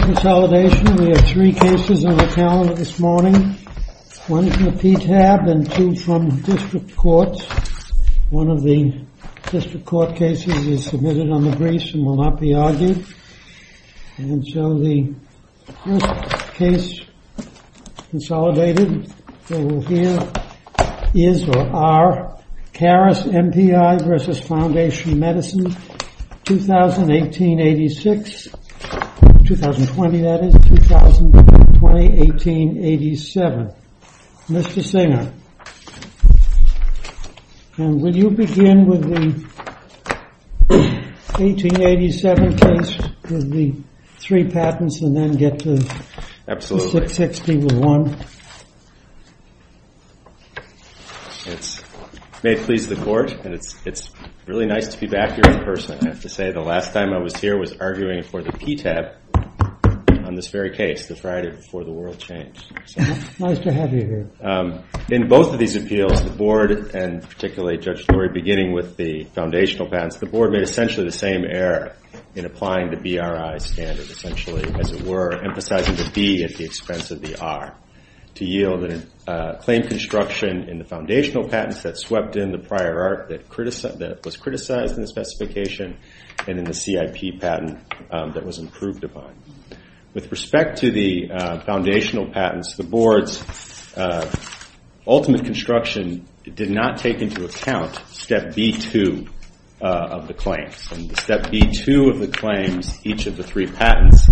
Consolidation. We have three cases on the calendar this morning. One from the PTAB and two from district courts. One of the district court cases is submitted on the briefs and will not be argued. And so the first case consolidated is or are Caris MPI v. Foundation Medicine, 2020-18-87. Mr. Singer, will you begin with the 18-87 case with the three patents and then get to 660 with one? It's very nice to be back here in person. I have to say the last time I was here was arguing for the PTAB on this very case, the Friday before the world changed. In both of these appeals, the board and particularly Judge Flory, beginning with the foundational patents, the board made essentially the same error in applying the BRI standard, essentially as it were, emphasizing the B at the expense of the R, to yield a claim construction in the foundational patents that swept in the prior art that was criticized in the specification and in the CIP patent that was improved upon. With respect to the foundational patents, the board's ultimate construction did not take into account step B2 of the claims. Step B2 of the claims, each of the three patents,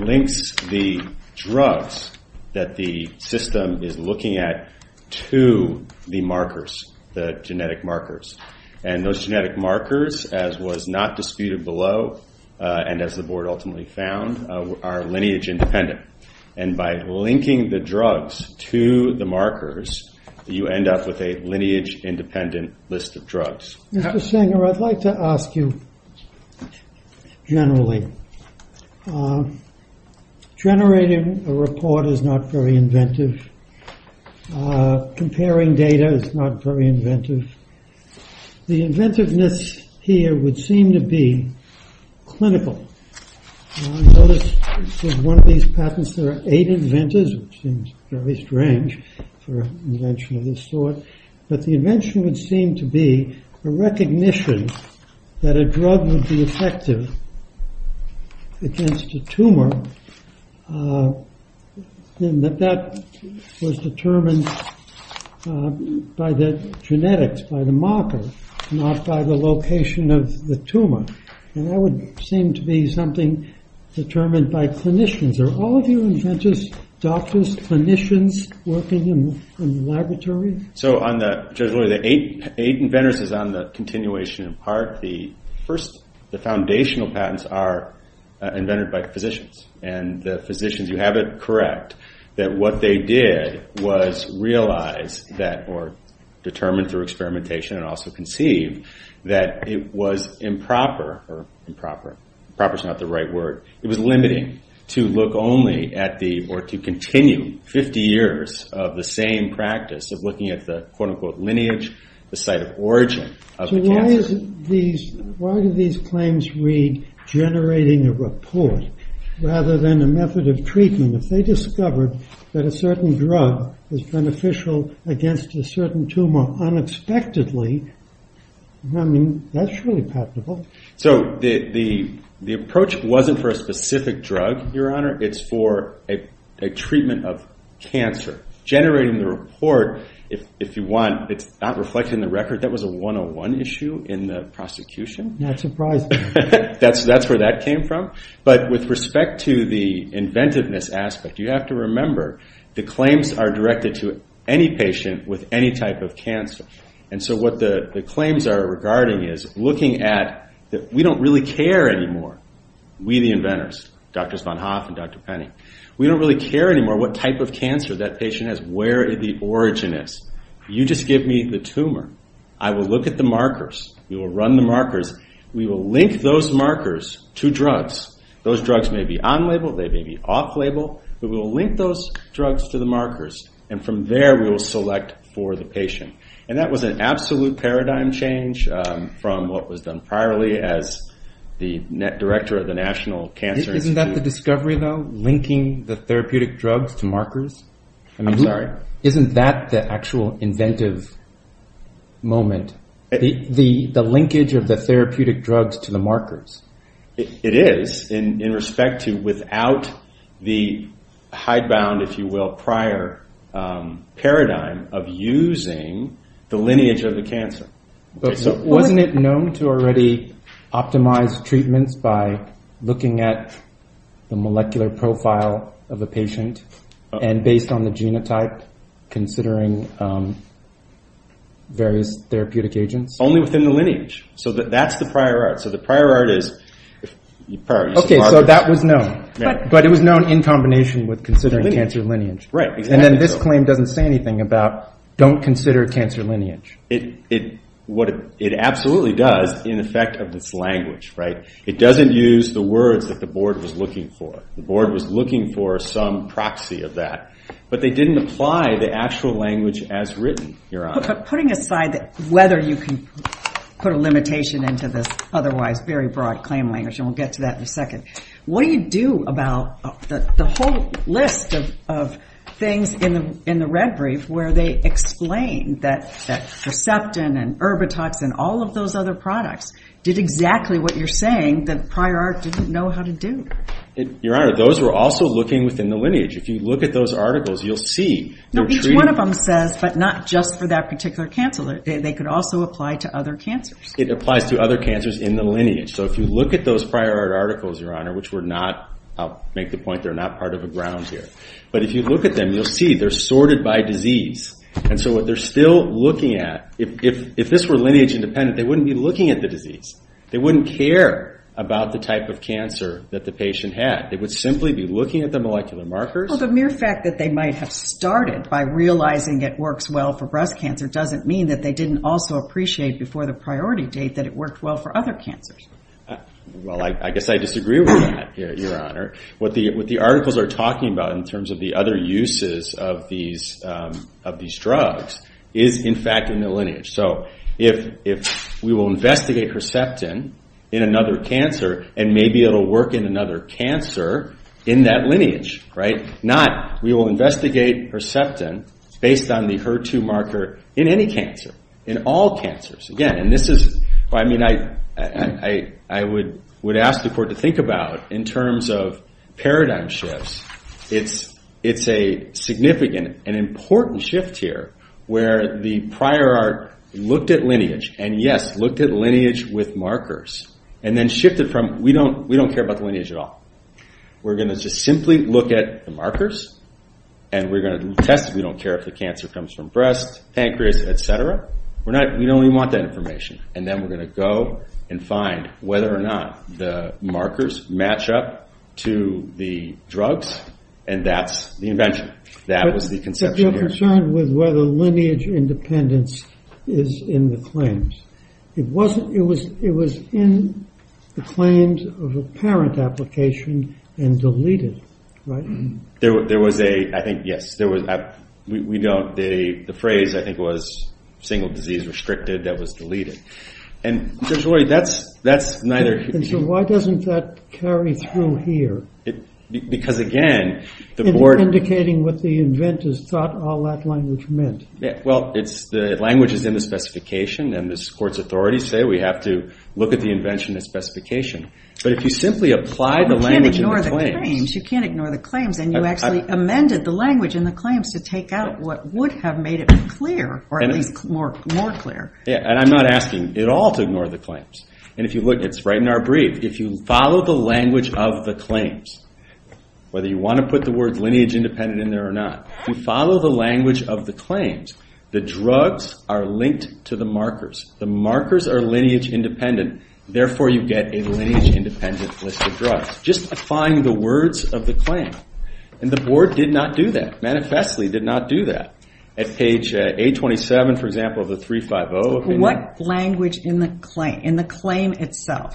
links the drugs that the system is looking at to the markers, the genetic markers. And those genetic markers, as was not disputed below, and as the board ultimately found, are lineage-independent. And by linking the drugs to the markers, you end up with a lineage-independent list of drugs. Mr. Singer, I'd like to ask you generally. Generating a report is not very inventive. Comparing data is not very inventive. The inventiveness here would seem to be clinical. I noticed with one of these patents, there are eight inventors, which seems very strange for an invention of this sort. But the invention would seem to be a recognition that a drug would be effective against a tumor, and that that was determined by the genetics, by the marker, not by the location of the tumor. And that would seem to be something determined by clinicians. Are all of your inventors doctors, clinicians, working in the laboratory? So on the, Judge Lurie, the eight inventors is on the continuation in part. The first, the foundational patents are invented by physicians. And the physicians, you have it correct that what they did was realize that, or determine through experimentation and also conceive, that it was improper, or improper, improper is not the right word, it was limiting to look only at the, or to continue 50 years of the same practice of looking at the quote unquote lineage, the site of origin of the cancer. So why do these claims read generating a report, rather than a method of treatment? If they were to be used for a specific drug, it's for a treatment of cancer. Generating the report, if you want, it's not reflected in the record. That was a 101 issue in the prosecution. Not surprising. That's where that came from. But with respect to the inventiveness aspect, you have to remember the claims are directed to any patient with any type of cancer. And so what the claims are regarding is looking at, we don't really care anymore, we the inventors, Drs. Von Hoff and Dr. Penney. We don't really care anymore what type of cancer that patient has, where the origin is. You just give me the tumor. I will look at the markers. We will run the markers. We will link those markers to drugs. Those drugs may be on-label, they may be off-label, but we will link those drugs to the markers. And from there, we will select for the patient. And that was an absolute paradigm change from what was done priorly as the director of the National Cancer Institute. Isn't that the discovery, though? Linking the therapeutic drugs to markers? I'm sorry? Isn't that the actual inventive moment? The linkage of the therapeutic drugs to the markers? It is, in respect to without the hidebound, if you will, prior paradigm of using the lineage of the cancer. But wasn't it known to already optimize treatments by looking at the molecular profile of a patient and based on the genotype, considering various therapeutic agents? Only within the lineage. So that's the prior art. So the prior art is prior use of markers. Okay, so that was known. But it was known in combination with considering cancer lineage. Right, exactly. And then this claim doesn't say anything about don't consider cancer lineage. It absolutely does in effect of its language, right? It doesn't use the words that the board was looking for. The board was looking for some proxy of that. But they didn't apply the actual language as written, Your Honor. But putting aside whether you can put a limitation into this otherwise very broad claim language, and we'll get to that in a second, what do you do about the whole list of things in the red brief where they explain that Receptin and Erbatoxin, all of those other products, did exactly what you're saying that prior art didn't know how to do? Your Honor, those were also looking within the lineage. If you look at those articles, you'll see. No, each one of them says, but not just for that particular cancer. They could also apply to other cancers. It applies to other cancers in the lineage. So if you look at those prior art articles, Your Honor, which were not, I'll make the point they're not part of a ground here. But if you look at them, you'll see they're sorted by disease. And so what they're still looking at, if this were lineage independent, they wouldn't be looking at the disease. They wouldn't care about the type of cancer that the patient had. They would simply be looking at the molecular markers. Well, the mere fact that they might have started by realizing it works well for breast cancer doesn't mean that they didn't also appreciate before the priority date that it worked well for other cancers. Well, I guess I disagree with that, Your Honor. What the articles are talking about in terms of the other uses of these drugs is, in fact, in the lineage. So if we will investigate Receptin in another cancer, and maybe it'll work in another cancer in that lineage. Not, we will investigate Receptin based on the HER2 marker in any cancer, in all cancers. I would ask the Court to think about, in terms of paradigm shifts, it's a significant and important shift here where the prior art looked at lineage. And yes, looked at lineage with markers. And then shifted from, we don't care about the lineage at all. We're going to just simply look at the markers, and we're going to test if we don't care if the cancer comes from breast, pancreas, etc. We don't even want that information. And then we're going to go and find whether or not the markers match up to the drugs, and that's the invention. That was the conception here. I'm concerned with whether lineage independence is in the claims. It was in the claims of a parent application and deleted, right? There was a, I think, yes. We don't, the phrase I think was single disease restricted that was deleted. And that's neither. And so why doesn't that carry through here? Because again, the board- Indicating what the inventors thought all that language meant. Well, the language is in the specification, and the Court's authorities say we have to look at the invention as specification. But if you simply apply the language in the claims- You can't ignore the claims. You can't ignore the claims. And you actually amended the language in the claims to take out what would have made it clear, or at least more clear. And I'm not asking at all to ignore the claims. And if you look, it's right in our brief. If you follow the language of the claims, whether you want to put the word lineage independent in there or not, you follow the language of the claims, the drugs are linked to the markers. The markers are lineage independent. Therefore, you get a lineage independent list of drugs. Just applying the words of the claim. And the board did not do that, manifestly did not do that. At page 827, for example, of the 350-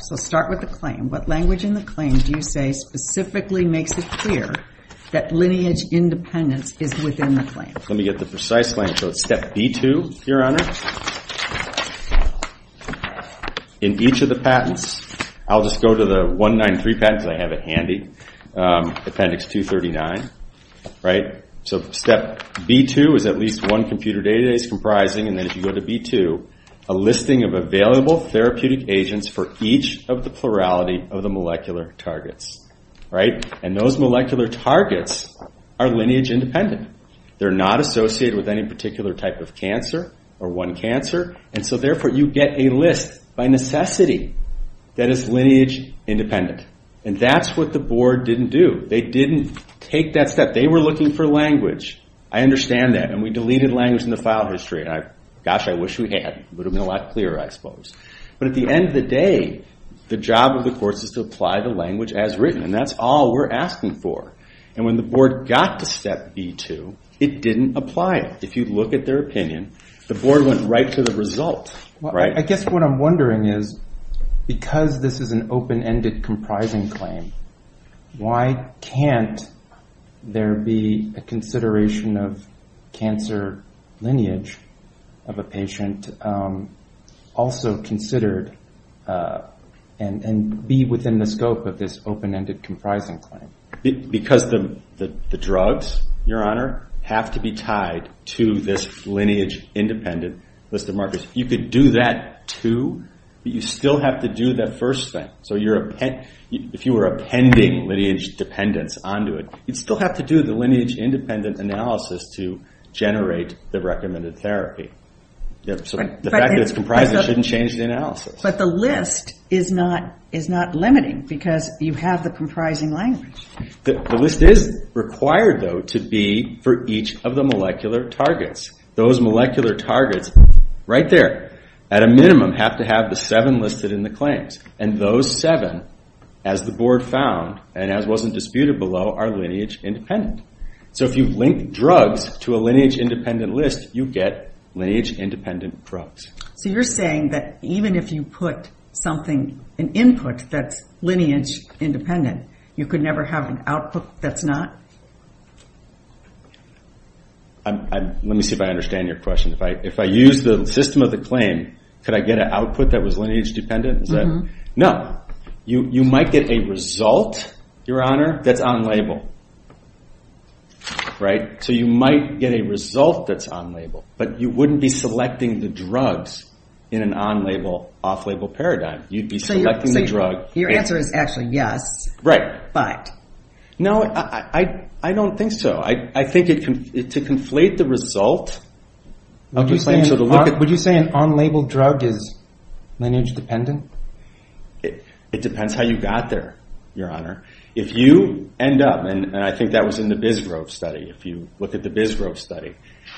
So start with the claim. What language in the claim do you say specifically makes it clear that lineage independence is within the claim? Let me get the precise language. So it's step B2, Your Honor. In each of the patents, I'll just go to the 193 patents. I have it handy. Appendix 239, right? So step B2 is at least one computer database comprising, and then if you go to B2, a listing of available therapeutic agents for each of the plurality of the molecular targets, right? And those molecular targets are lineage independent. They're not associated with any particular type of cancer or one cancer. And so therefore, you get a list by necessity that is lineage independent. And that's what the board didn't do. They didn't take that step. They were looking for language. I understand that. And we deleted language in the file history. Gosh, I wish we had. It would have been a lot clearer, I suppose. But at the end of the day, the job of the court is to apply the language as written. And that's all we're asking for. And when the board got to step B2, it didn't apply it. If you look at their opinion, the board went right to the result, right? I guess what I'm wondering is, because this is an open-ended comprising claim, why can't there be a consideration of cancer lineage of a patient also considered and be within the scope of this open-ended comprising claim? Because the drugs, Your Honor, have to be tied to this lineage independent list of markers. You could do that too, but you still have to do that first thing. So if you were appending lineage dependence onto it, you'd still have to do the lineage independent analysis to generate the recommended therapy. So the fact that it's comprised shouldn't change the analysis. But the list is not limiting because you have the comprising language. The list is required, though, to be for each of the molecular targets. Those molecular targets right there, at a minimum, have to have the seven listed in the claims. And those seven, as the board found, and as wasn't disputed below, are lineage independent. So if you link drugs to a lineage independent list, you get lineage independent drugs. So you're saying that even if you put something, an input that's lineage independent, you could never have an output that's not? Let me see if I understand your question. If I use the system of the claim, could I get an output that was lineage dependent? No. You might get a result, Your Honor, that's on-label. So you might get a result that's on-label, but you wouldn't be selecting the drugs in an on-label, off-label paradigm. You'd be selecting the drug. Your answer is actually yes, but? No, I don't think so. I think to conflate the result of the claim, so to look at... Lineage dependent? It depends how you got there, Your Honor. If you end up, and I think that was in the Bisgrove study, if you look at the Bisgrove study,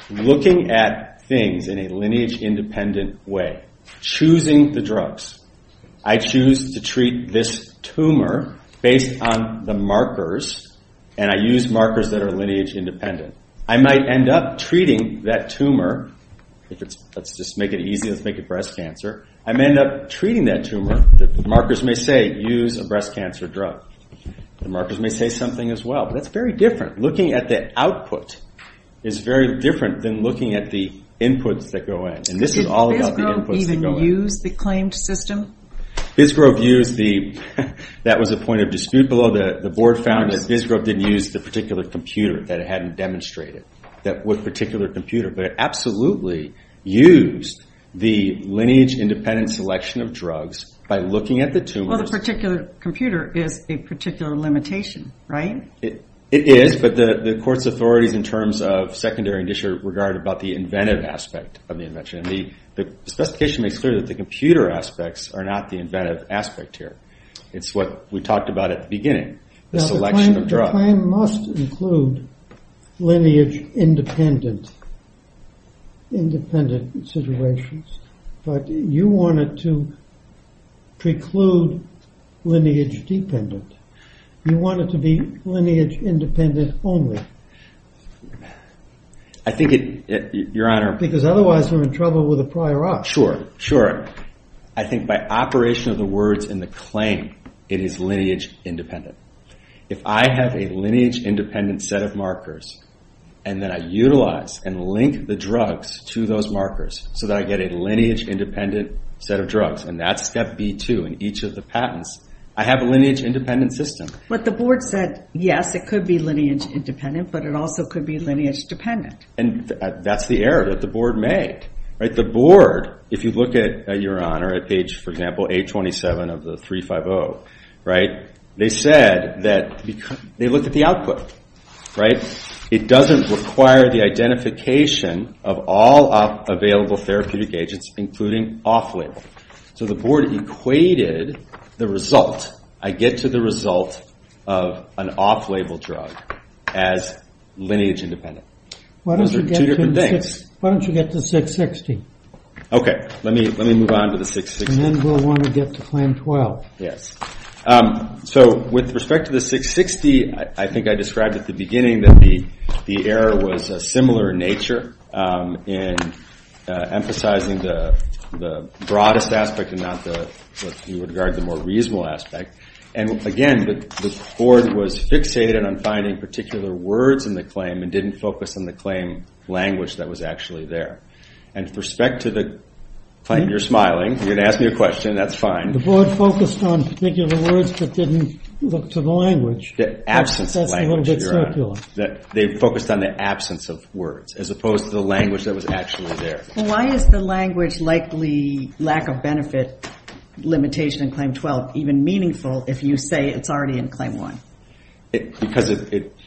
looking at things in a lineage independent way, choosing the drugs, I choose to treat this tumor based on the markers, and I use markers that are lineage independent. I might end up treating that tumor, let's just make it breast cancer. I might end up treating that tumor, the markers may say, use a breast cancer drug. The markers may say something as well, but that's very different. Looking at the output is very different than looking at the inputs that go in, and this is all about the inputs that go in. Did Bisgrove even use the claimed system? Bisgrove used the... That was a point of dispute below. The board found that Bisgrove didn't use the particular computer that it hadn't demonstrated, that particular computer, but absolutely used the lineage independent selection of drugs by looking at the tumors... Well, the particular computer is a particular limitation, right? It is, but the court's authorities in terms of secondary and district regard about the inventive aspect of the invention. The specification makes clear that the computer aspects are not the inventive aspect here. It's what we talked about at the beginning, the selection of drugs. The claim must include lineage independent situations, but you want it to preclude lineage dependent. You want it to be lineage independent only. I think it... Your Honor... Because otherwise we're in trouble with the prior art. Sure, sure. I think by operation of the words in the claim, it is lineage independent. If I have a lineage independent set of markers, and then I utilize and link the drugs to those markers so that I get a lineage independent set of drugs, and that's step B2 in each of the patents, I have a lineage independent system. The board said, yes, it could be lineage independent, but it also could be lineage dependent. That's the error that the board made. The board, if you look at, Your Honor, at page, for example, 827 of the 350, they said that... They looked at the output. It doesn't require the identification of all available therapeutic agents, including off-label. The board equated the result. I get to the result of an off-label drug as lineage independent. Those are two different things. Why don't you get to 660? Okay. Let me move on to the 660. Then we'll want to get to claim 12. Yes. With respect to the 660, I think I described at the beginning that the error was a similar nature in emphasizing the broadest aspect and not the, if you regard the more reasonable aspect. Again, the board was fixated on finding particular words in the claim and didn't focus on the claim language that was actually there. With respect to the claim, you're smiling. You're going to ask me a question. That's fine. The board focused on particular words but didn't look to the language. The absence of language, Your Honor. That's a little bit circular. They focused on the absence of words as opposed to the language that was actually there. Why is the language likely lack of benefit limitation in claim 12 even meaningful if you say it's already in claim 1? Because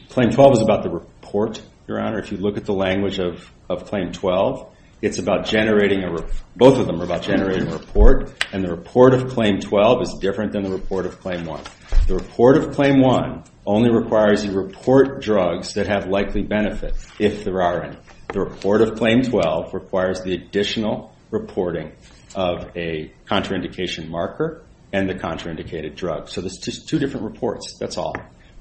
claim 12 is about the report, Your Honor. If you look at the language of claim 12, it's about generating a report. Both of them are about generating a report. And the report of claim 12 is different than the report of claim 1. The report of claim 1 only requires you report drugs that have likely benefit if there aren't. The report of claim 12 requires the additional reporting of a contraindication marker and the contraindicated drug. There's two different reports. That's all.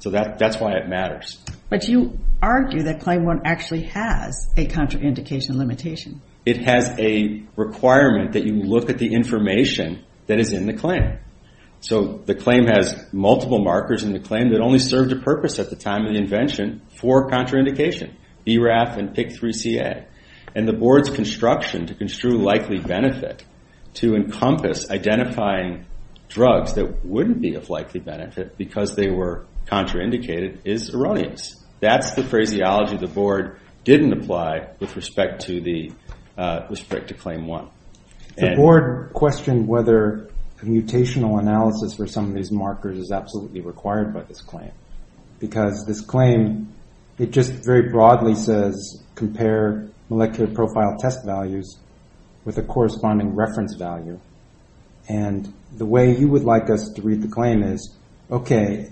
That's why it matters. But you argue that claim 1 actually has a contraindication limitation. It has a requirement that you look at the information that is in the claim. The claim has multiple markers in the claim that only served a purpose at the time of the invention for contraindication, BRAF and PIK3CA. And the board's construction to construe likely benefit to encompass identifying drugs that wouldn't be of likely benefit because they were contraindicated is erroneous. That's the phraseology the board didn't apply with respect to claim 1. The board questioned whether a mutational analysis for some of these markers is absolutely required by this claim. Because this claim, it just very broadly says compare molecular profile test values with a corresponding reference value. And the way you would like us to read the claim is, okay,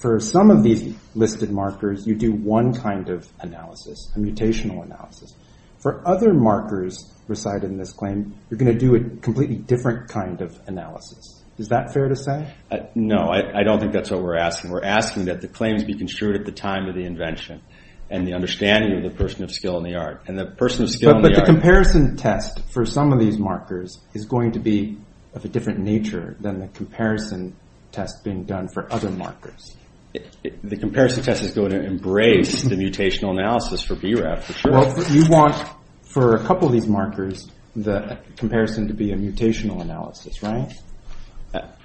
for some of these listed markers, you do one kind of analysis, a mutational analysis. For other markers recited in this claim, you're going to do a completely different kind of analysis. Is that fair to say? No, I don't think that's what we're asking. We're asking that the claims be construed at the time of the invention and the understanding of the person of skill in the art. But the comparison test for some of these markers is going to be of a different nature than the comparison test being done for other markers. The comparison test is going to embrace the mutational analysis for BRAF, for sure. Well, you want for a couple of these markers, the comparison to be a mutational analysis, right?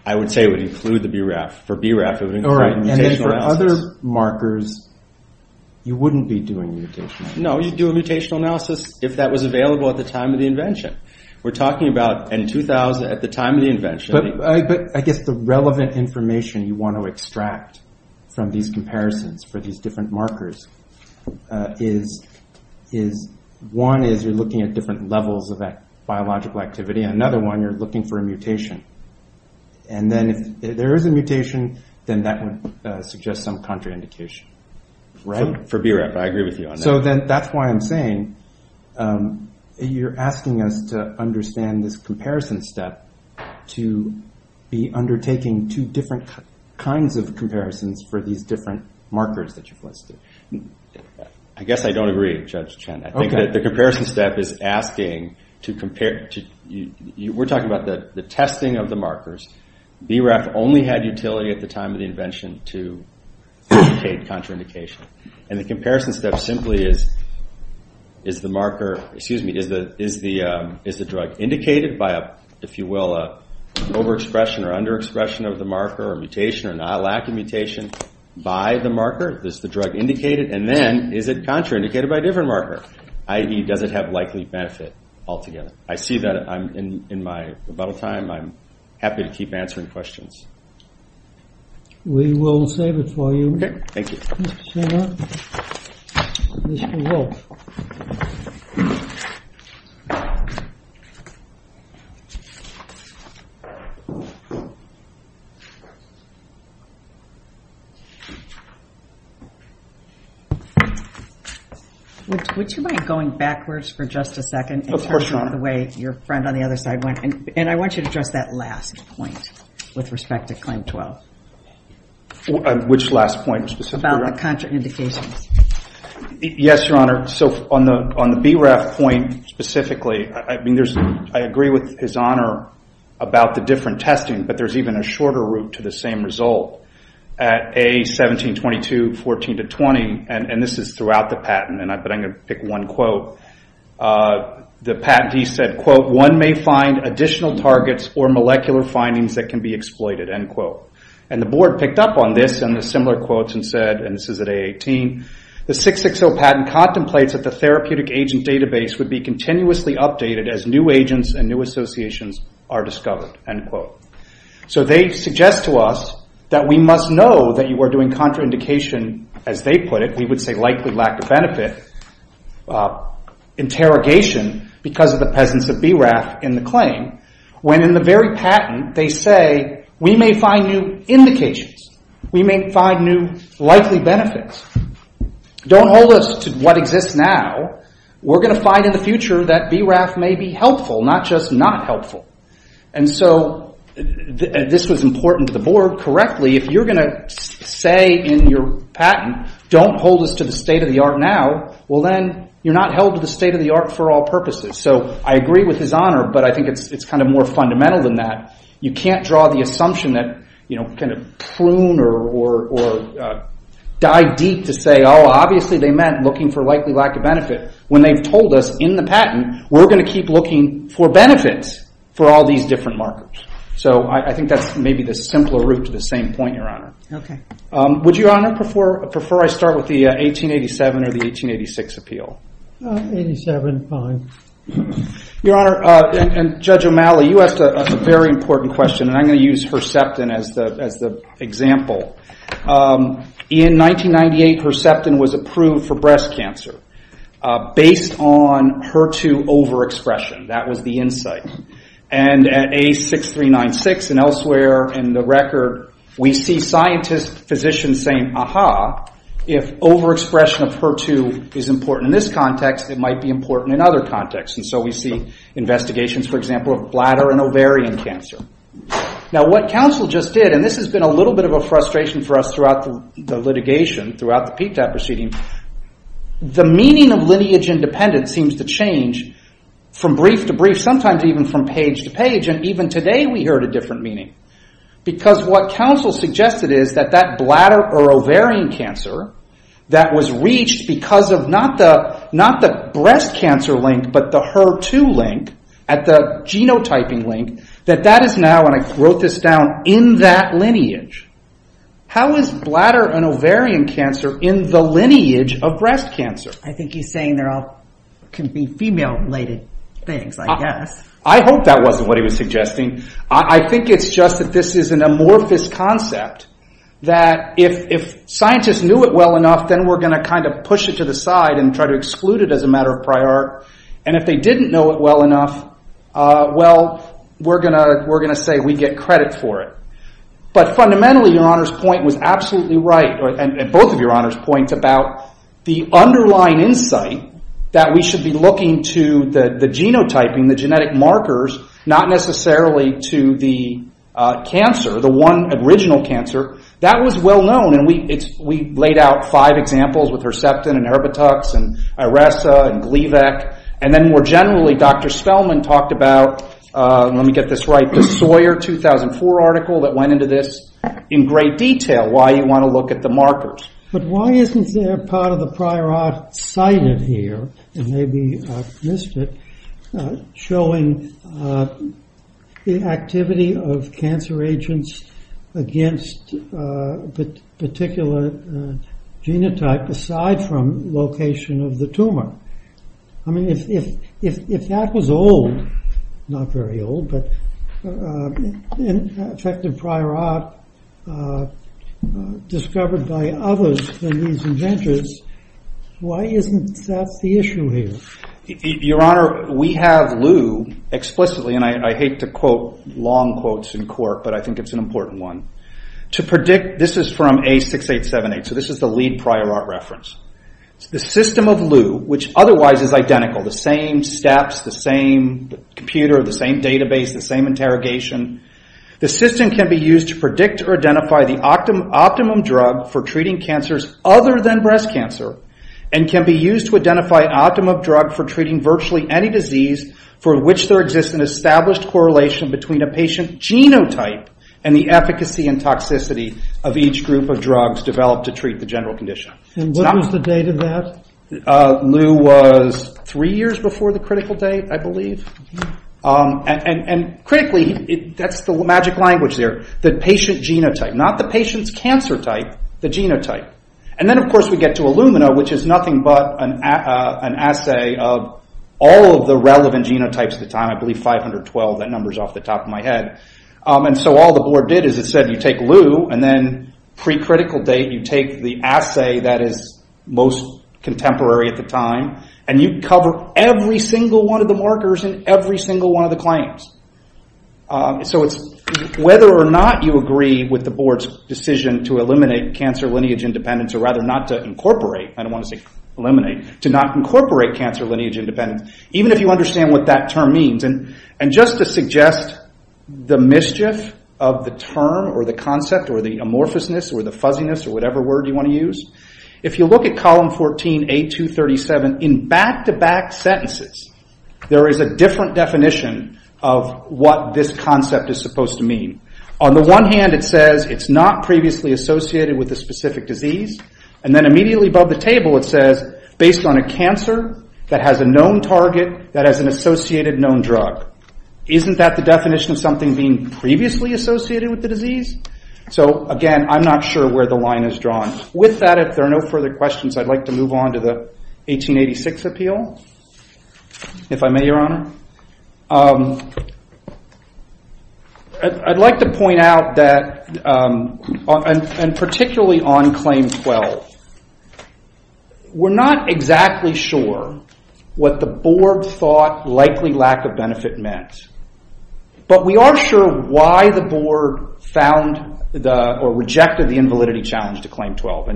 I would say it would include the BRAF. For BRAF, it would include a mutational analysis. No, you'd do a mutational analysis if that was available at the time of the invention. We're talking about in 2000, at the time of the invention. But I guess the relevant information you want to extract from these comparisons for these different markers is, one is you're looking at different levels of biological activity. Another one, you're looking for a mutation. And then if there is a mutation, then that would suggest some contraindication. For BRAF, I agree with you on that. So then that's why I'm saying you're asking us to understand this comparison step to be undertaking two different kinds of comparisons for these different markers that you've listed. I guess I don't agree, Judge Chen. I think that the comparison step is asking to compare. We're talking about the testing of the markers. BRAF only had utility at the time of the invention to indicate contraindication. And the comparison step simply is, is the marker, excuse me, is the drug indicated by a, if you will, overexpression or underexpression of the marker or mutation or not lacking mutation by the marker? Is the drug indicated? And then, is it contraindicated by a different marker? I.e., does it have likely benefit altogether? I see that I'm in my rebuttal time. I'm happy to keep answering questions. We will save it for you. Thank you. Mr. Wolf. Would you mind going backwards for just a second? Of course, Your Honor. In terms of the way your friend on the other side went. And I want you to address that last point with respect to Claim 12. Which last point specifically? About the contraindications. Yes, Your Honor. On the BRAF point specifically, I agree with His Honor about the different testing, but there's even a shorter route to the same result. I'm going to pick one quote. The patentee said, One may find additional targets or molecular findings that can be exploited. And the board picked up on this and the similar quotes and said, and this is at A18, The 660 patent contemplates that the therapeutic agent database would be continuously updated as new agents and new associations are discovered. So they suggest to us that we must know that you are doing contraindication, as they put it, we would say likely lack of benefit, interrogation because of the presence of BRAF in the claim. When in the very patent they say, We may find new indications. We may find new likely benefits. Don't hold us to what exists now. We're going to find in the future that BRAF may be helpful, not just not helpful. And so this was important to the board. If you're going to say in your patent, Don't hold us to the state-of-the-art now, you're not held to the state-of-the-art for all purposes. I agree with his honor, but I think it's more fundamental than that. You can't draw the assumption that, prune or dive deep to say, Obviously they meant looking for likely lack of benefit. When they've told us in the patent, we're going to keep looking for benefits for all these different markers. So I think that's maybe the simpler route to the same point, your honor. Okay. Would you honor, prefer I start with the 1887 or the 1886 appeal? 1887, fine. Your honor, and Judge O'Malley, you asked a very important question, and I'm going to use Herceptin as the example. In 1998, Herceptin was approved for breast cancer based on HER2 overexpression. That was the insight. And at A6396 and elsewhere in the record, we see scientists, physicians saying, Aha, if overexpression of HER2 is important in this context, it might be important in other contexts. And so we see investigations, for example, of bladder and ovarian cancer. Now what counsel just did, and this has been a little bit of a frustration for us throughout the litigation, throughout the PTAP proceeding, the meaning of lineage independent seems to change from brief to brief, sometimes even from page to page, and even today we heard a different meaning. Because what counsel suggested is that that bladder or ovarian cancer that was reached because of not the breast cancer link, but the HER2 link at the genotyping link, that that is now, and I wrote this down, in that lineage. How is bladder and ovarian cancer in the lineage of breast cancer? I think he's saying there can be female related things, I guess. I hope that wasn't what he was suggesting. I think it's just that this is an amorphous concept that if scientists knew it well enough then we're going to kind of push it to the side and try to exclude it as a matter of prior. And if they didn't know it well enough, well, we're going to say we get credit for it. But fundamentally, your Honor's point was absolutely right, and both of your Honor's points about the underlying insight that we should be looking to the genotyping, the genetic markers, not necessarily to the cancer, the one original cancer. That was well known. We laid out five examples with Herceptin and Herbitux and Iressa and Gleevec. More generally, Dr. Spellman talked about, let me get this right, the Sawyer 2004 article that went into this in great detail, why you want to look at the markers. But why isn't there part of the prior art cited here, and maybe I've missed it, showing the activity of cancer agents against particular genotype aside from location of the tumor? I mean, if that was old, not very old, but effective prior art discovered by others than these inventors, why isn't that the issue here? Your Honor, we have Lew explicitly, and I hate to quote long quotes in court, but I think it's an important one. This is from A6878, so this is the lead prior art reference. The system of Lew, which otherwise is identical, the same steps, the same computer, the same database, the same interrogation, the system can be used to predict or identify the optimum drug for treating cancers other than breast cancer and can be used to identify optimum drug for treating virtually any disease for which there exists an established correlation between a patient genotype and the efficacy and toxicity of each group of drugs developed to treat the general condition. And what was the date of that? Lew was three years before the critical date, I believe. And critically, that's the magic language there, the patient genotype, not the patient's cancer type, the genotype. And then of course we get to Illumina, which is nothing but an assay of all of the relevant genotypes at the time, I believe 512, that number's off the top of my head. And so all the board did is it said you take Lew and then pre-critical date, you take the assay that is most contemporary at the time and you cover every single one of the markers and every single one of the claims. Whether or not you agree with the board's decision to eliminate cancer lineage independence or rather not to incorporate, I don't want to say eliminate, to not incorporate cancer lineage independence, even if you understand what that term means. And just to suggest the mischief of the term or the concept or the amorphousness or the fuzziness or whatever word you want to use, if you look at column 14, A237, in back-to-back sentences there is a different definition of what this concept is supposed to mean. On the one hand it says it's not previously associated with a specific disease. And then immediately above the table it says based on a cancer that has a known target that has an associated known drug. Isn't that the definition of something being previously associated with the disease? So again, I'm not sure where the line is drawn. With that, if there are no further questions I'd like to move on to the 1886 appeal, if I may, Your Honor. I'd like to point out that and particularly on claim 12 we're not exactly sure what the board thought likely lack of benefit meant. But we are sure why the board found or rejected the invalidity challenge to claim 12.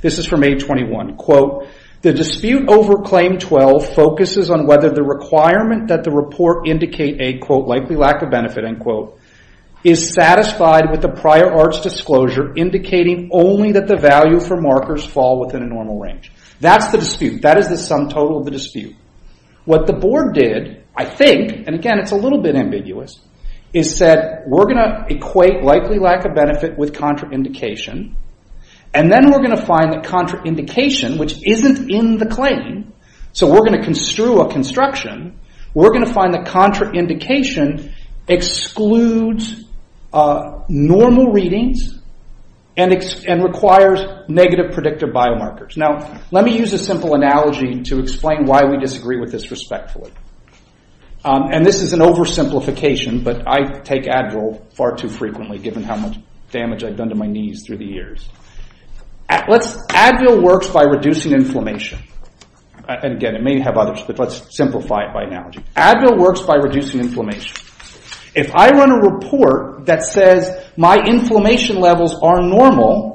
This is from A21. The dispute over claim 12 focuses on whether the requirement that the report indicate a likely lack of benefit is satisfied with the prior arts disclosure indicating only that the value for markers fall within a normal range. That is the sum total of the dispute. What the board did, I think, is said we're going to equate likely lack of benefit with contraindication and then we're going to find that contraindication which isn't in the claim so we're going to construe a construction we're going to find that contraindication excludes normal readings and requires negative predictive biomarkers. Let me use a simple analogy to explain why we disagree with this respectfully. This is an oversimplification but I take Advil far too frequently given how much damage I've done to my knees through the years. Advil works by reducing inflammation. It may have others but let's simplify it by analogy. Advil works by reducing inflammation. If I run a report that says my inflammation levels are normal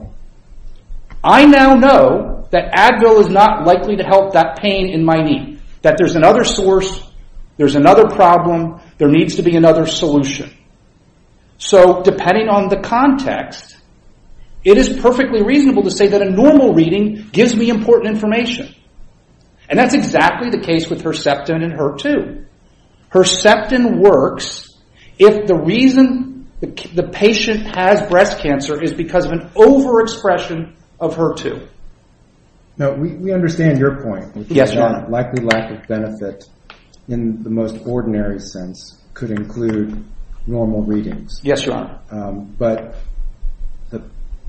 I now know that Advil is not likely to help that pain in my knee. There's another source, there's another problem there needs to be another solution. Depending on the context it is perfectly reasonable to say that a normal reading gives me important information. That's exactly the case with Herceptin and HER2. Herceptin works if the reason the patient has breast cancer is because of an overexpression of HER2. We understand your point likely lack of benefit in the most ordinary sense could include normal readings but the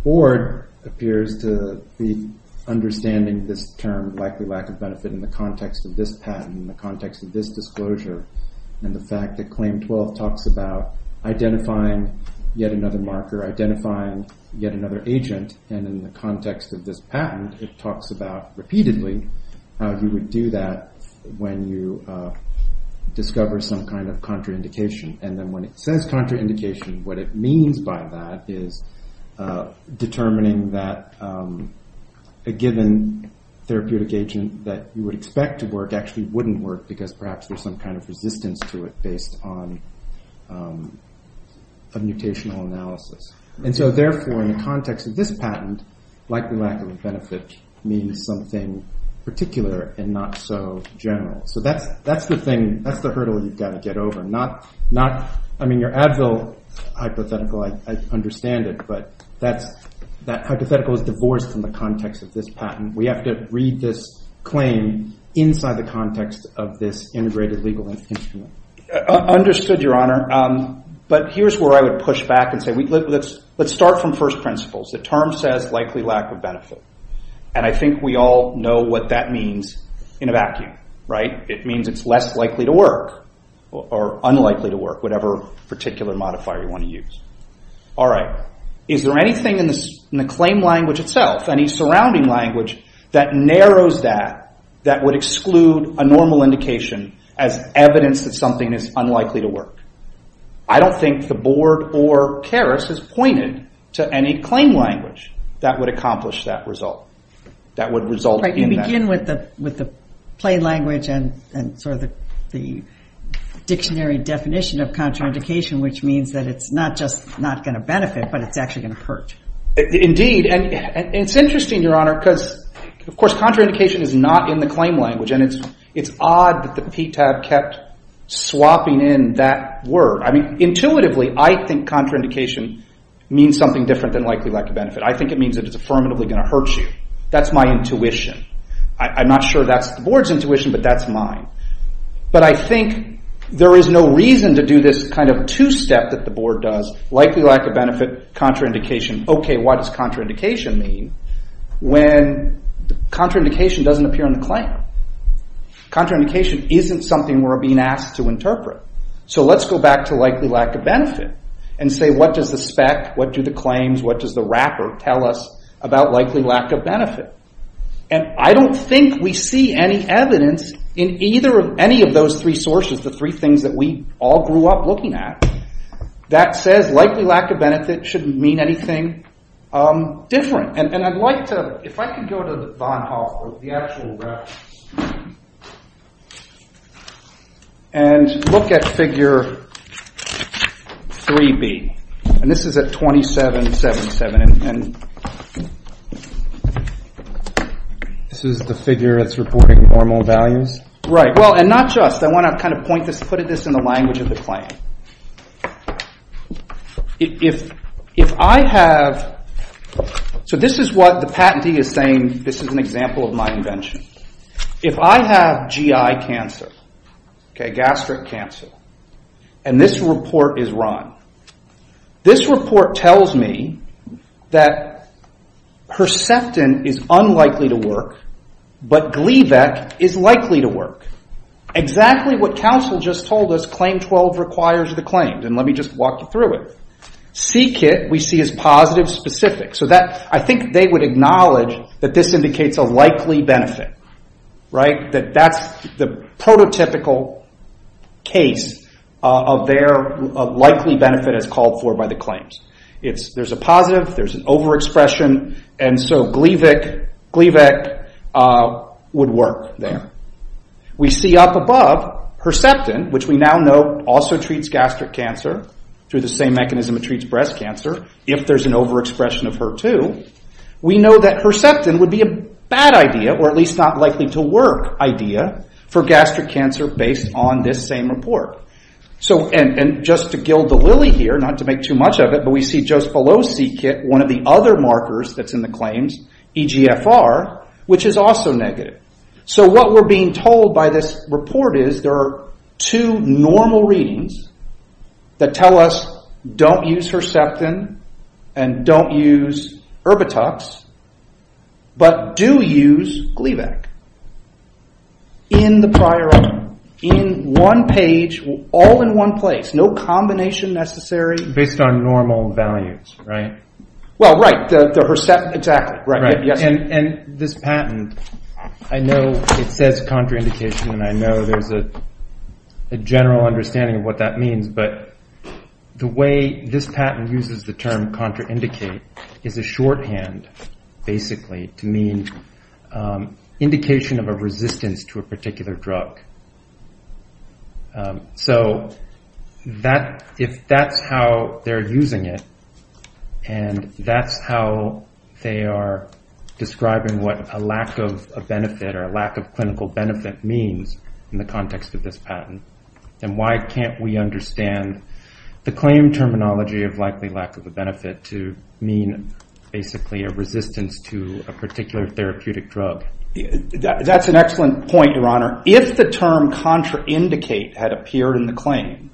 board appears to be understanding this term likely lack of benefit in the context of this patent, in the context of this disclosure and the fact that claim 12 talks about identifying yet another marker, identifying yet another agent and in the context of this patent it talks about repeatedly how you would do that when you discover some kind of contraindication and when it says contraindication what it means by that is determining that a given therapeutic agent that you would expect to work actually wouldn't work because perhaps there is some kind of resistance to it based on a mutational analysis. Therefore in the context of this patent likely lack of benefit means something particular and not so general. That's the hurdle you've got to get over. Your Advil hypothetical, I understand it but that hypothetical is divorced from the context of this patent. We have to read this claim inside the context of this integrated legal instrument. Understood, Your Honor. Let's start from first principles. The term says likely lack of benefit and I think we all know what that means in a vacuum. It means it's less likely to work or unlikely to work, whatever particular modifier you want to use. Is there anything in the claim language itself any surrounding language that narrows that that would exclude a normal indication as evidence that something is unlikely to work? I don't think the board or Keras has pointed to any claim language that would accomplish that result. You begin with the plain language and the dictionary definition of contraindication which means that it's not just not going to benefit but it's actually going to hurt. Contraindication is not in the claim language and it's odd that the PTAB kept swapping in that word. Intuitively, I think contraindication means something different than likely lack of benefit. I think it means it's affirmatively going to hurt you. That's my intuition. I'm not sure that's the board's intuition but that's mine. I think there is no reason to do this two-step that the board does. Likely lack of benefit, contraindication. Why does contraindication mean when contraindication doesn't appear in the claim? Contraindication isn't something we're being asked to interpret. Let's go back to likely lack of benefit and say what does the spec, what do the claims, what does the wrapper tell us about likely lack of benefit? I don't think we see any evidence in any of those three sources, the three things that we all grew up looking at that says likely lack of benefit shouldn't mean anything different. If I could go to the actual reference and look at figure 3B and this is at 27.77 This is the figure that's reporting normal values? Not just. I want to put this in the language of the claim. This is what the patentee is saying. This is an example of my invention. If I have GI cancer, gastric cancer and this report is wrong. This report tells me that Herceptin is unlikely to work but Gleevec is likely to work. Exactly what counsel just told us claim 12 requires the claim. CKIT we see as positive specific. I think they would acknowledge that this indicates a likely benefit. That's the prototypical case of their likely benefit as called for by the claims. There's a positive, there's an overexpression and so Gleevec would work there. We see up above Herceptin which we now know also treats gastric cancer through the same mechanism it treats breast cancer if there's an overexpression of HER2 we know that Herceptin would be a bad idea or at least not likely to work idea for gastric cancer based on this same report. Just to gild the lily here we see just below CKIT one of the other markers that's in the claims, EGFR which is also negative. What we're being told by this report is there are two normal readings that tell us don't use Herceptin and don't use Herbitux but do use Gleevec in the prior item in one page all in one place no combination necessary based on normal values. This patent I know it says contraindication and I know there's a general understanding of what that means but the way this patent uses the term contraindicate is a shorthand basically to mean indication of a resistance to a particular drug. If that's how they're using it and that's how they are describing what a lack of benefit or a lack of clinical benefit means in the context of this patent then why can't we understand the claim terminology of likely lack of benefit to mean basically a resistance to a particular therapeutic drug. That's an excellent point your honor if the term contraindicate had appeared in the claim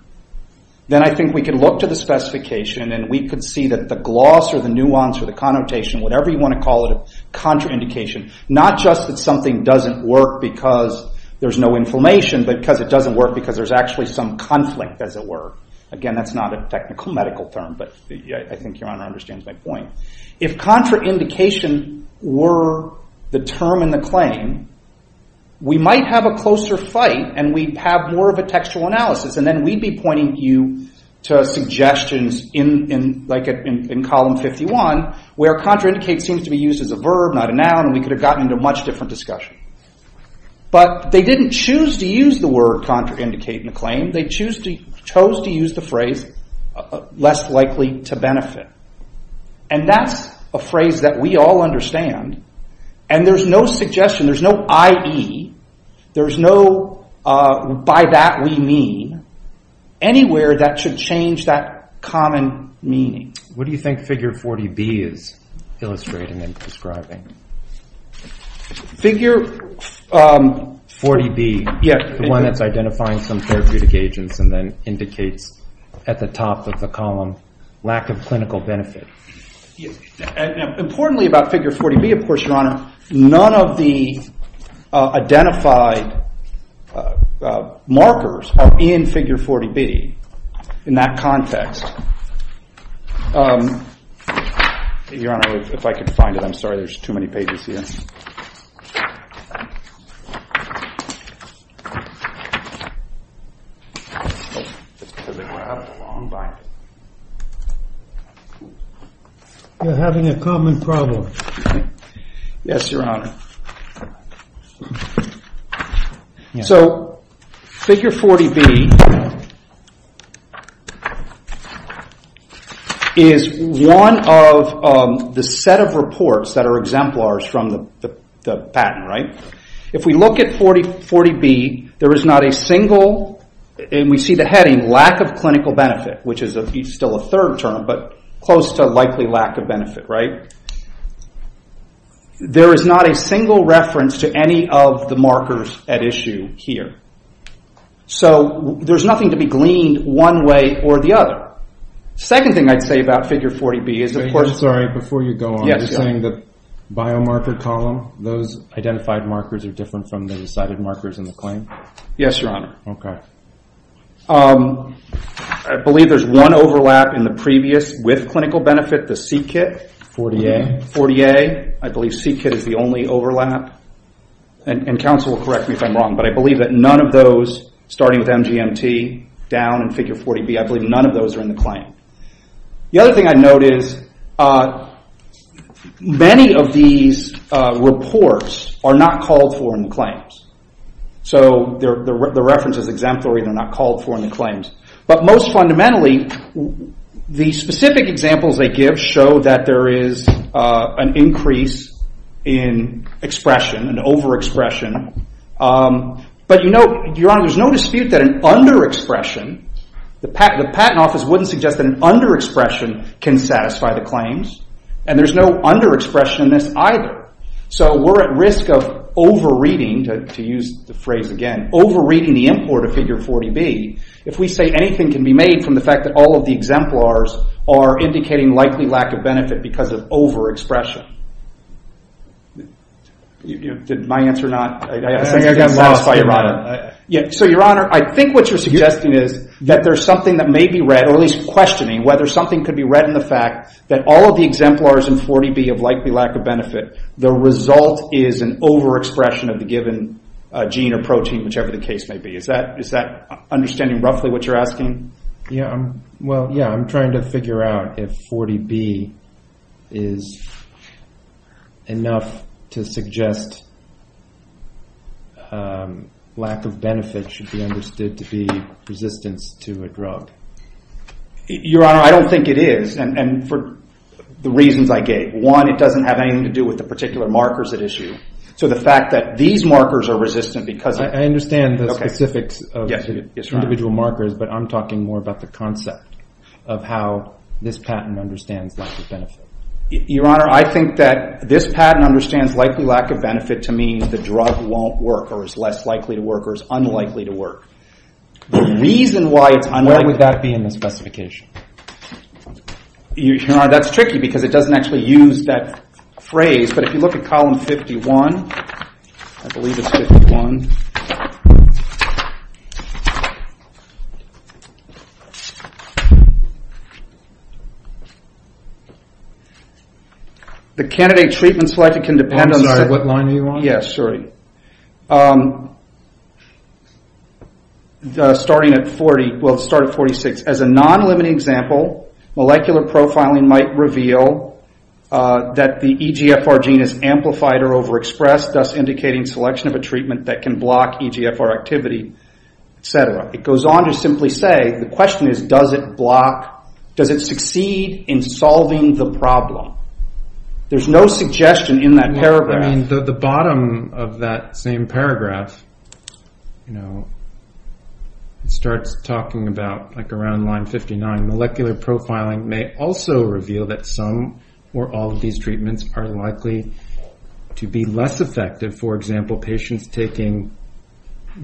then I think we could look to the specification and we could see that the gloss or the nuance or the connotation whatever you want to call it contraindication not just that something doesn't work because there's no inflammation but because it doesn't work because there's actually some conflict as it were again that's not a technical medical term but I think your honor understands my point if contraindication were the term in the claim we might have a closer fight and we'd have more of a textual analysis and then we'd be pointing you to suggestions like in column 51 where contraindicate seems to be used as a verb not a noun and we could have gotten into a much different discussion but they didn't choose to use the word contraindicate they chose to use the phrase less likely to benefit and that's a phrase that we all understand and there's no suggestion there's no IE there's no by that we mean anywhere that should change that common meaning what do you think figure 40B is illustrating and describing figure 40B the one that's identifying some therapeutic agents and then indicates at the top of the column lack of clinical benefit importantly about figure 40B of course your honor none of the identified markers are in figure 40B in that context your honor if I could find it I'm sorry there's too many pages here you're having a common problem yes your honor so figure 40B is one of the set of reports that are exemplars from the patent if we look at 40B there is not a single and we see the heading lack of clinical benefit which is still a third term close to likely lack of benefit there is not a single reference to any of the markers at issue here so there's nothing to be gleaned one way or the other second thing I'd say about figure 40B biomarker column those identified markers are different from the recited markers yes your honor I believe there's one overlap in the previous with clinical benefit the C-kit I believe C-kit is the only overlap and counsel will correct me if I'm wrong but I believe that none of those starting with MGMT down in figure 40B I believe none of those are in the claim the other thing I'd note is many of these reports are not called for in the claims the reference is exemplary but most fundamentally the specific examples they give show that there is an increase in expression over expression there's no dispute that an under expression the patent office wouldn't suggest that an under expression can satisfy the claims and there's no under expression in this either so we're at risk of over reading over reading the import of figure 40B if we say anything can be made from the fact that all of the exemplars are indicating likely lack of benefit because of over expression did my answer not satisfy your honor I think what you're suggesting is that there's something that may be read questioning whether something could be read that all of the exemplars in 40B of likely lack of benefit the result is an over expression of the given gene or protein is that understanding roughly what you're asking I'm trying to figure out if 40B is enough to suggest lack of benefit should be understood to be resistance to a drug your honor I don't think it is one it doesn't have anything to do with the particular markers so the fact that these markers are resistant I understand the specifics but I'm talking more about the concept of how this patent understands lack of benefit your honor I think that this patent understands likely lack of benefit to mean the drug won't work or is less likely to work or is unlikely to work what would that be in the specification your honor that's tricky because it doesn't actually use that phrase but if you look at column 51 the candidate treatment selected I'm sorry what line are you on starting at 46 as a non limiting example molecular profiling might reveal that the EGFR gene is amplified or over expressed thus indicating selection of a treatment that can block EGFR activity it goes on to simply say does it succeed in solving the problem there's no suggestion in that paragraph the bottom of that same paragraph starts talking about around line 59 molecular profiling may also reveal that some or all of these treatments are likely to be less effective for example patients taking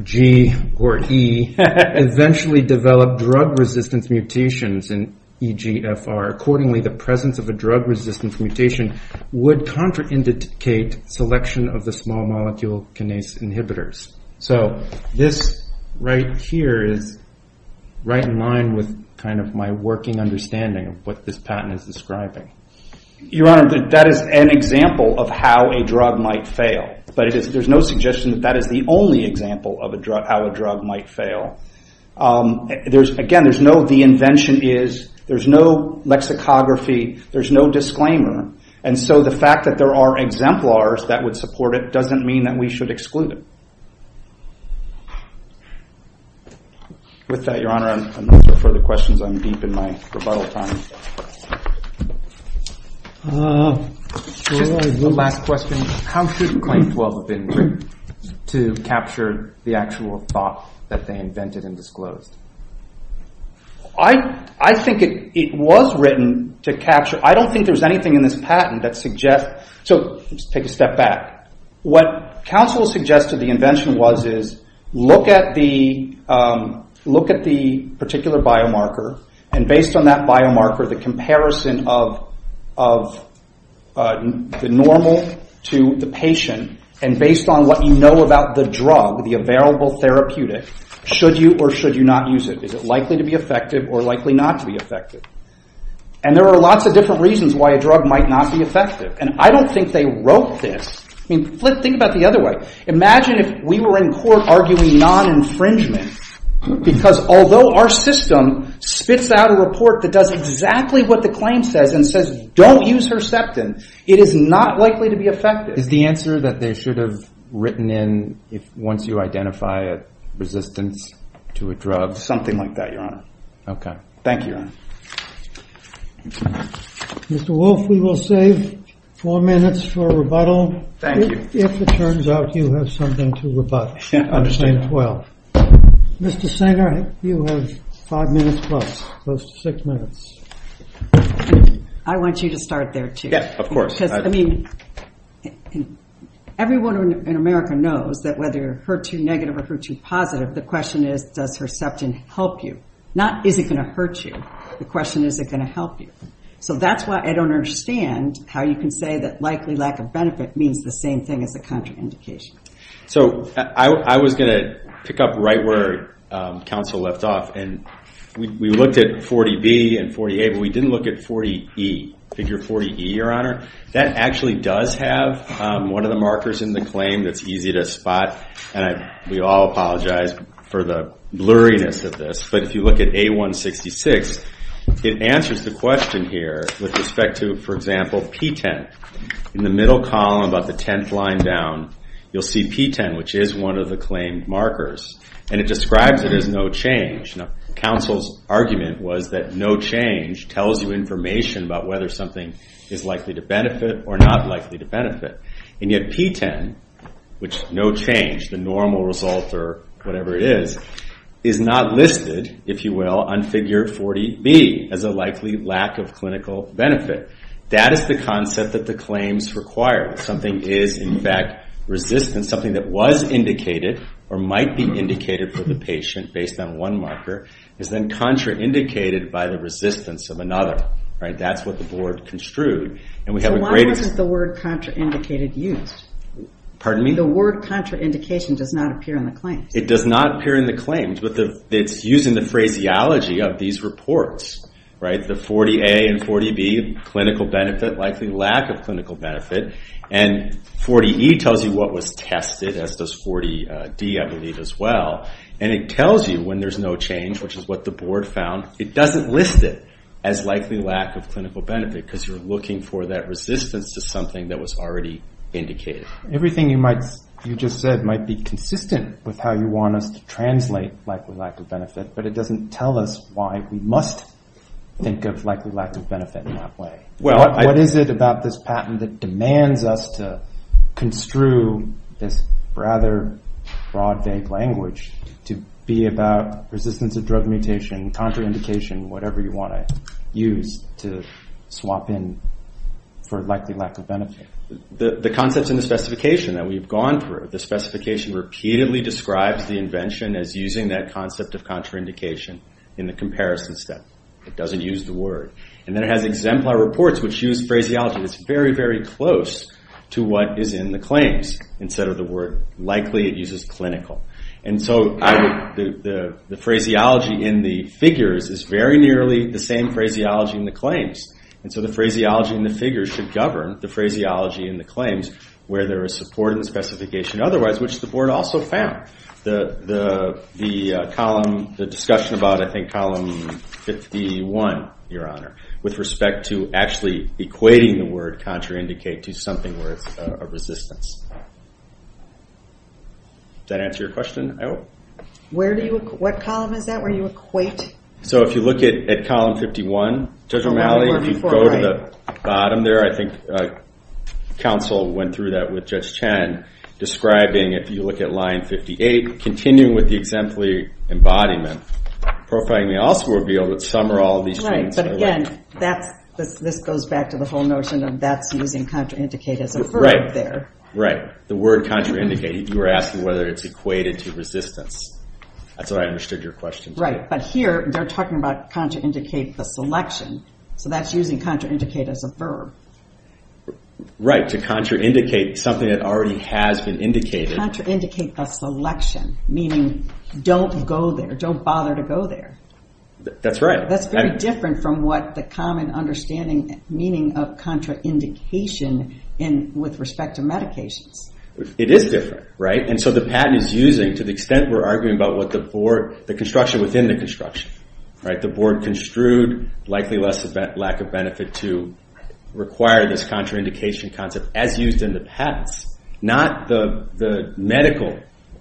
G or E eventually develop drug resistance mutations in EGFR accordingly the presence of a drug resistance mutation would contraindicate selection of the small molecule kinase inhibitors so this right here is right in line with my working understanding of what this patent is describing your honor that is an example of how a drug might fail but there's no suggestion that is the only example of how a drug might fail again there's no the invention is there's no lexicography there's no disclaimer and so the fact that there are exemplars that would support it doesn't mean that we should exclude it with that your honor I'm not looking for further questions I'm deep in my rebuttal time one last question how should claim 12 have been written to capture the actual thought that they invented and disclosed I think it was written to capture I don't think there's anything in this patent take a step back what counsel suggested the invention was look at the particular biomarker and based on that biomarker the comparison of the normal to the patient and based on what you know about the drug the available therapeutic should you or should you not use it is it likely to be effective or likely not to be effective and there are lots of different reasons why a drug might not be effective and I don't think they wrote this think about it the other way imagine if we were in court arguing non-infringement because although our system spits out a report that does exactly what the claim says and says don't use Herceptin it is not likely to be effective is the answer that they should have written in once you identify a resistance to a drug something like that your honor Mr. Wolf we will save 4 minutes Mr. Sanger you have 5 minutes Mr. Sanger you have 5 minutes Mr. Sanger you have 5 minutes I want you to start there too everyone in America knows that whether Her2 negative or Her2 positive the question is does Herceptin help you not is it going to hurt you the question is is it going to help you so that is why I don't understand how you can say that likely lack of benefit means the same thing as a contraindication so I was going to pick up right where counsel left off we looked at 40B and 40A but we didn't look at 40E figure 40E your honor that actually does have one of the markers in the claim that is easy to spot we all apologize for the blurriness of this but if you look at A166 it answers the question here with respect to for example P10 in the middle column about the 10th line down you will see P10 which is one of the claimed markers and it describes it as no change counsel's argument was that no change tells you information about whether something is likely to benefit or not likely to benefit and yet P10 which is no change the normal result or whatever it is is not listed if you will on figure 40B as a likely lack of clinical benefit that is the concept that the claims require something is in fact resistant something that was indicated or might be indicated for the patient based on one marker is then contraindicated by the resistance of another that is what the board construed so why wasn't the word contraindicated used? the word contraindication does not appear in the claims it does not appear in the claims but it is used in the phraseology of these reports the 40A and 40B, clinical benefit likely lack of clinical benefit and 40E tells you what was tested as does 40D I believe as well and it tells you when there is no change which is what the board found it doesn't list it as likely lack of clinical benefit because you are looking for that resistance to something that was already indicated everything you just said might be consistent with how you want us to translate likely lack of benefit but it doesn't tell us why we must think of likely lack of benefit in that way what is it about this patent that demands us to construe this rather broad vague language to be about resistance to drug mutation, contraindication whatever you want to use to swap in for likely lack of benefit the concept in the specification that we have gone through the specification repeatedly describes the invention as using that concept of contraindication in the comparison step it doesn't use the word it has exemplar reports which use phraseology it is very close to what is in the claims likely it uses clinical the phraseology in the figures is very nearly the same phraseology in the claims the phraseology in the figures should govern the phraseology in the claims where there is support in the specification which the board also found the discussion about column 51 with respect to equating the word contraindicate to something where it is a resistance does that answer your question? what column is that where you equate? if you look at column 51 Judge O'Malley counsel went through that with Judge Chen describing if you look at line 58 continuing with the exemplary embodiment profiling may also reveal that some or all of these things this goes back to the whole notion of that is using contraindicate as a verb you are asking whether it is equated to resistance that is how I understood your question here they are talking about contraindicate the selection that is using contraindicate as a verb to contraindicate something that already has been indicated contraindicate the selection meaning don't bother to go there that is very different from the common understanding meaning of contraindication with respect to medications it is different to the extent we are arguing about the construction within the construction the board construed lack of benefit to require this contraindication concept as used in the patents not the medical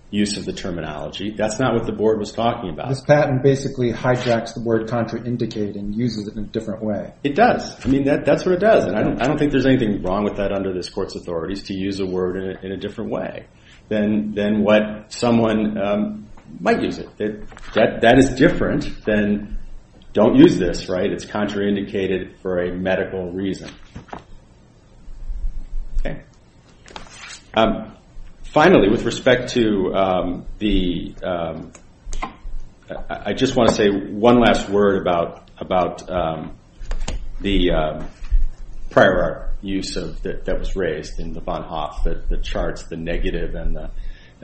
use of the terminology that is not what the board was talking about this patent basically hijacks the word contraindicate and uses it in a different way it does I don't think there is anything wrong with that to use the word in a different way than what someone might use it that is different than don't use this it is contraindicated for a medical reason finally with respect to I just want to say one last word about the prior art use that was raised in the Bonhoeff, the charts, the negative and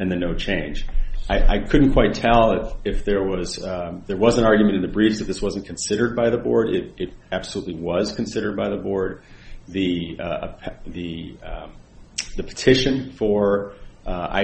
the no change I couldn't quite tell if there was an argument in the briefs this wasn't considered by the board it absolutely was considered by the board the petition for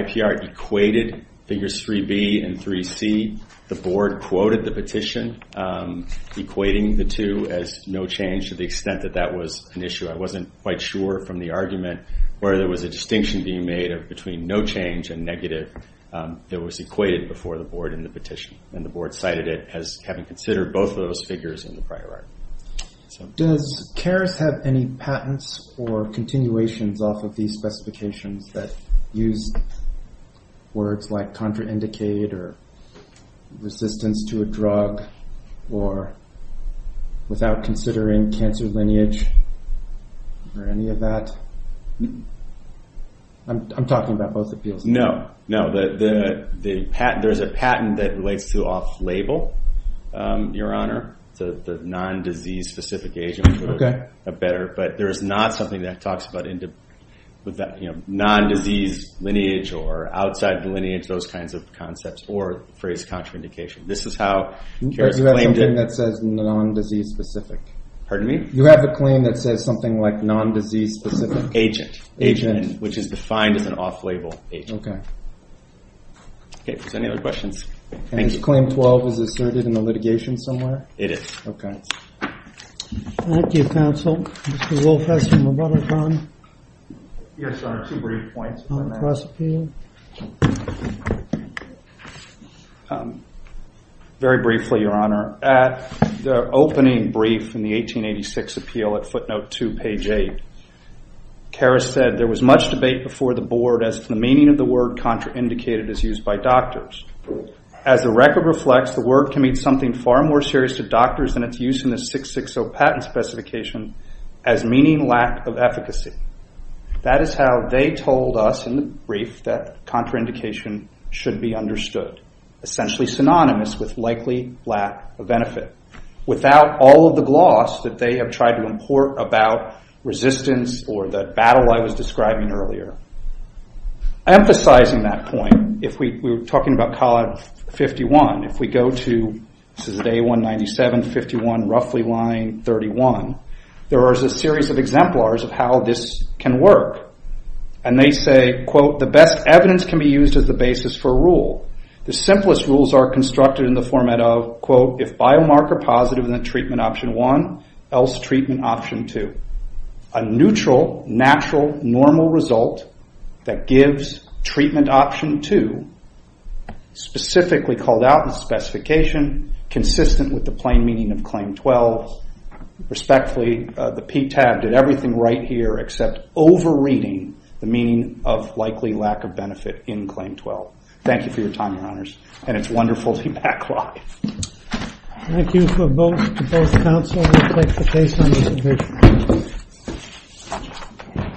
IPR equated figures 3B and 3C the board quoted the petition equating the two as no change to the extent that was an issue I wasn't quite sure from the argument where there was a distinction being made between no change and negative that was equated before the board in the petition and the board cited it as having considered both of those figures does CARES have any patents or continuations off of these specifications that use words like contraindicate or resistance to a drug or without considering cancer lineage or any of that I'm talking about both appeals there is a patent that relates to off-label your honor the non-disease specific agent but there is not something that talks about non-disease lineage or outside the lineage those kinds of concepts or phrase contraindication this is how CARES claimed it you have a claim that says non-disease specific you have a claim that says something like non-disease specific agent, which is defined as an off-label agent any other questions claim 12 is asserted in the litigation it is thank you counsel very briefly your honor the opening brief in the 1886 appeal footnote 2 page 8 CARES said there was much debate before the board as to the meaning of the word contraindicated as used by doctors as the record reflects, the word can mean something far more serious to doctors than its use in the 660 patent specification as meaning lack of efficacy that is how they told us that contraindication should be understood essentially synonymous with likely lack of benefit without all of the gloss that they have tried to import about resistance or the battle I was describing earlier emphasizing that point if we go to A197 51 roughly line 31 there is a series of exemplars of how this can work the best evidence can be used as the basis for a rule the simplest rules are constructed in the format of if biomarker positive then treatment option 1 else treatment option 2 a neutral natural normal result that gives treatment option 2 specifically called out in the specification consistent with the plain meaning of claim 12 respectfully the PTAB did everything right here except over reading the meaning of likely lack of benefit in claim 12 thank you for your time your honors and it is wonderful to be back live thank you to both counsel and the expectation on this occasion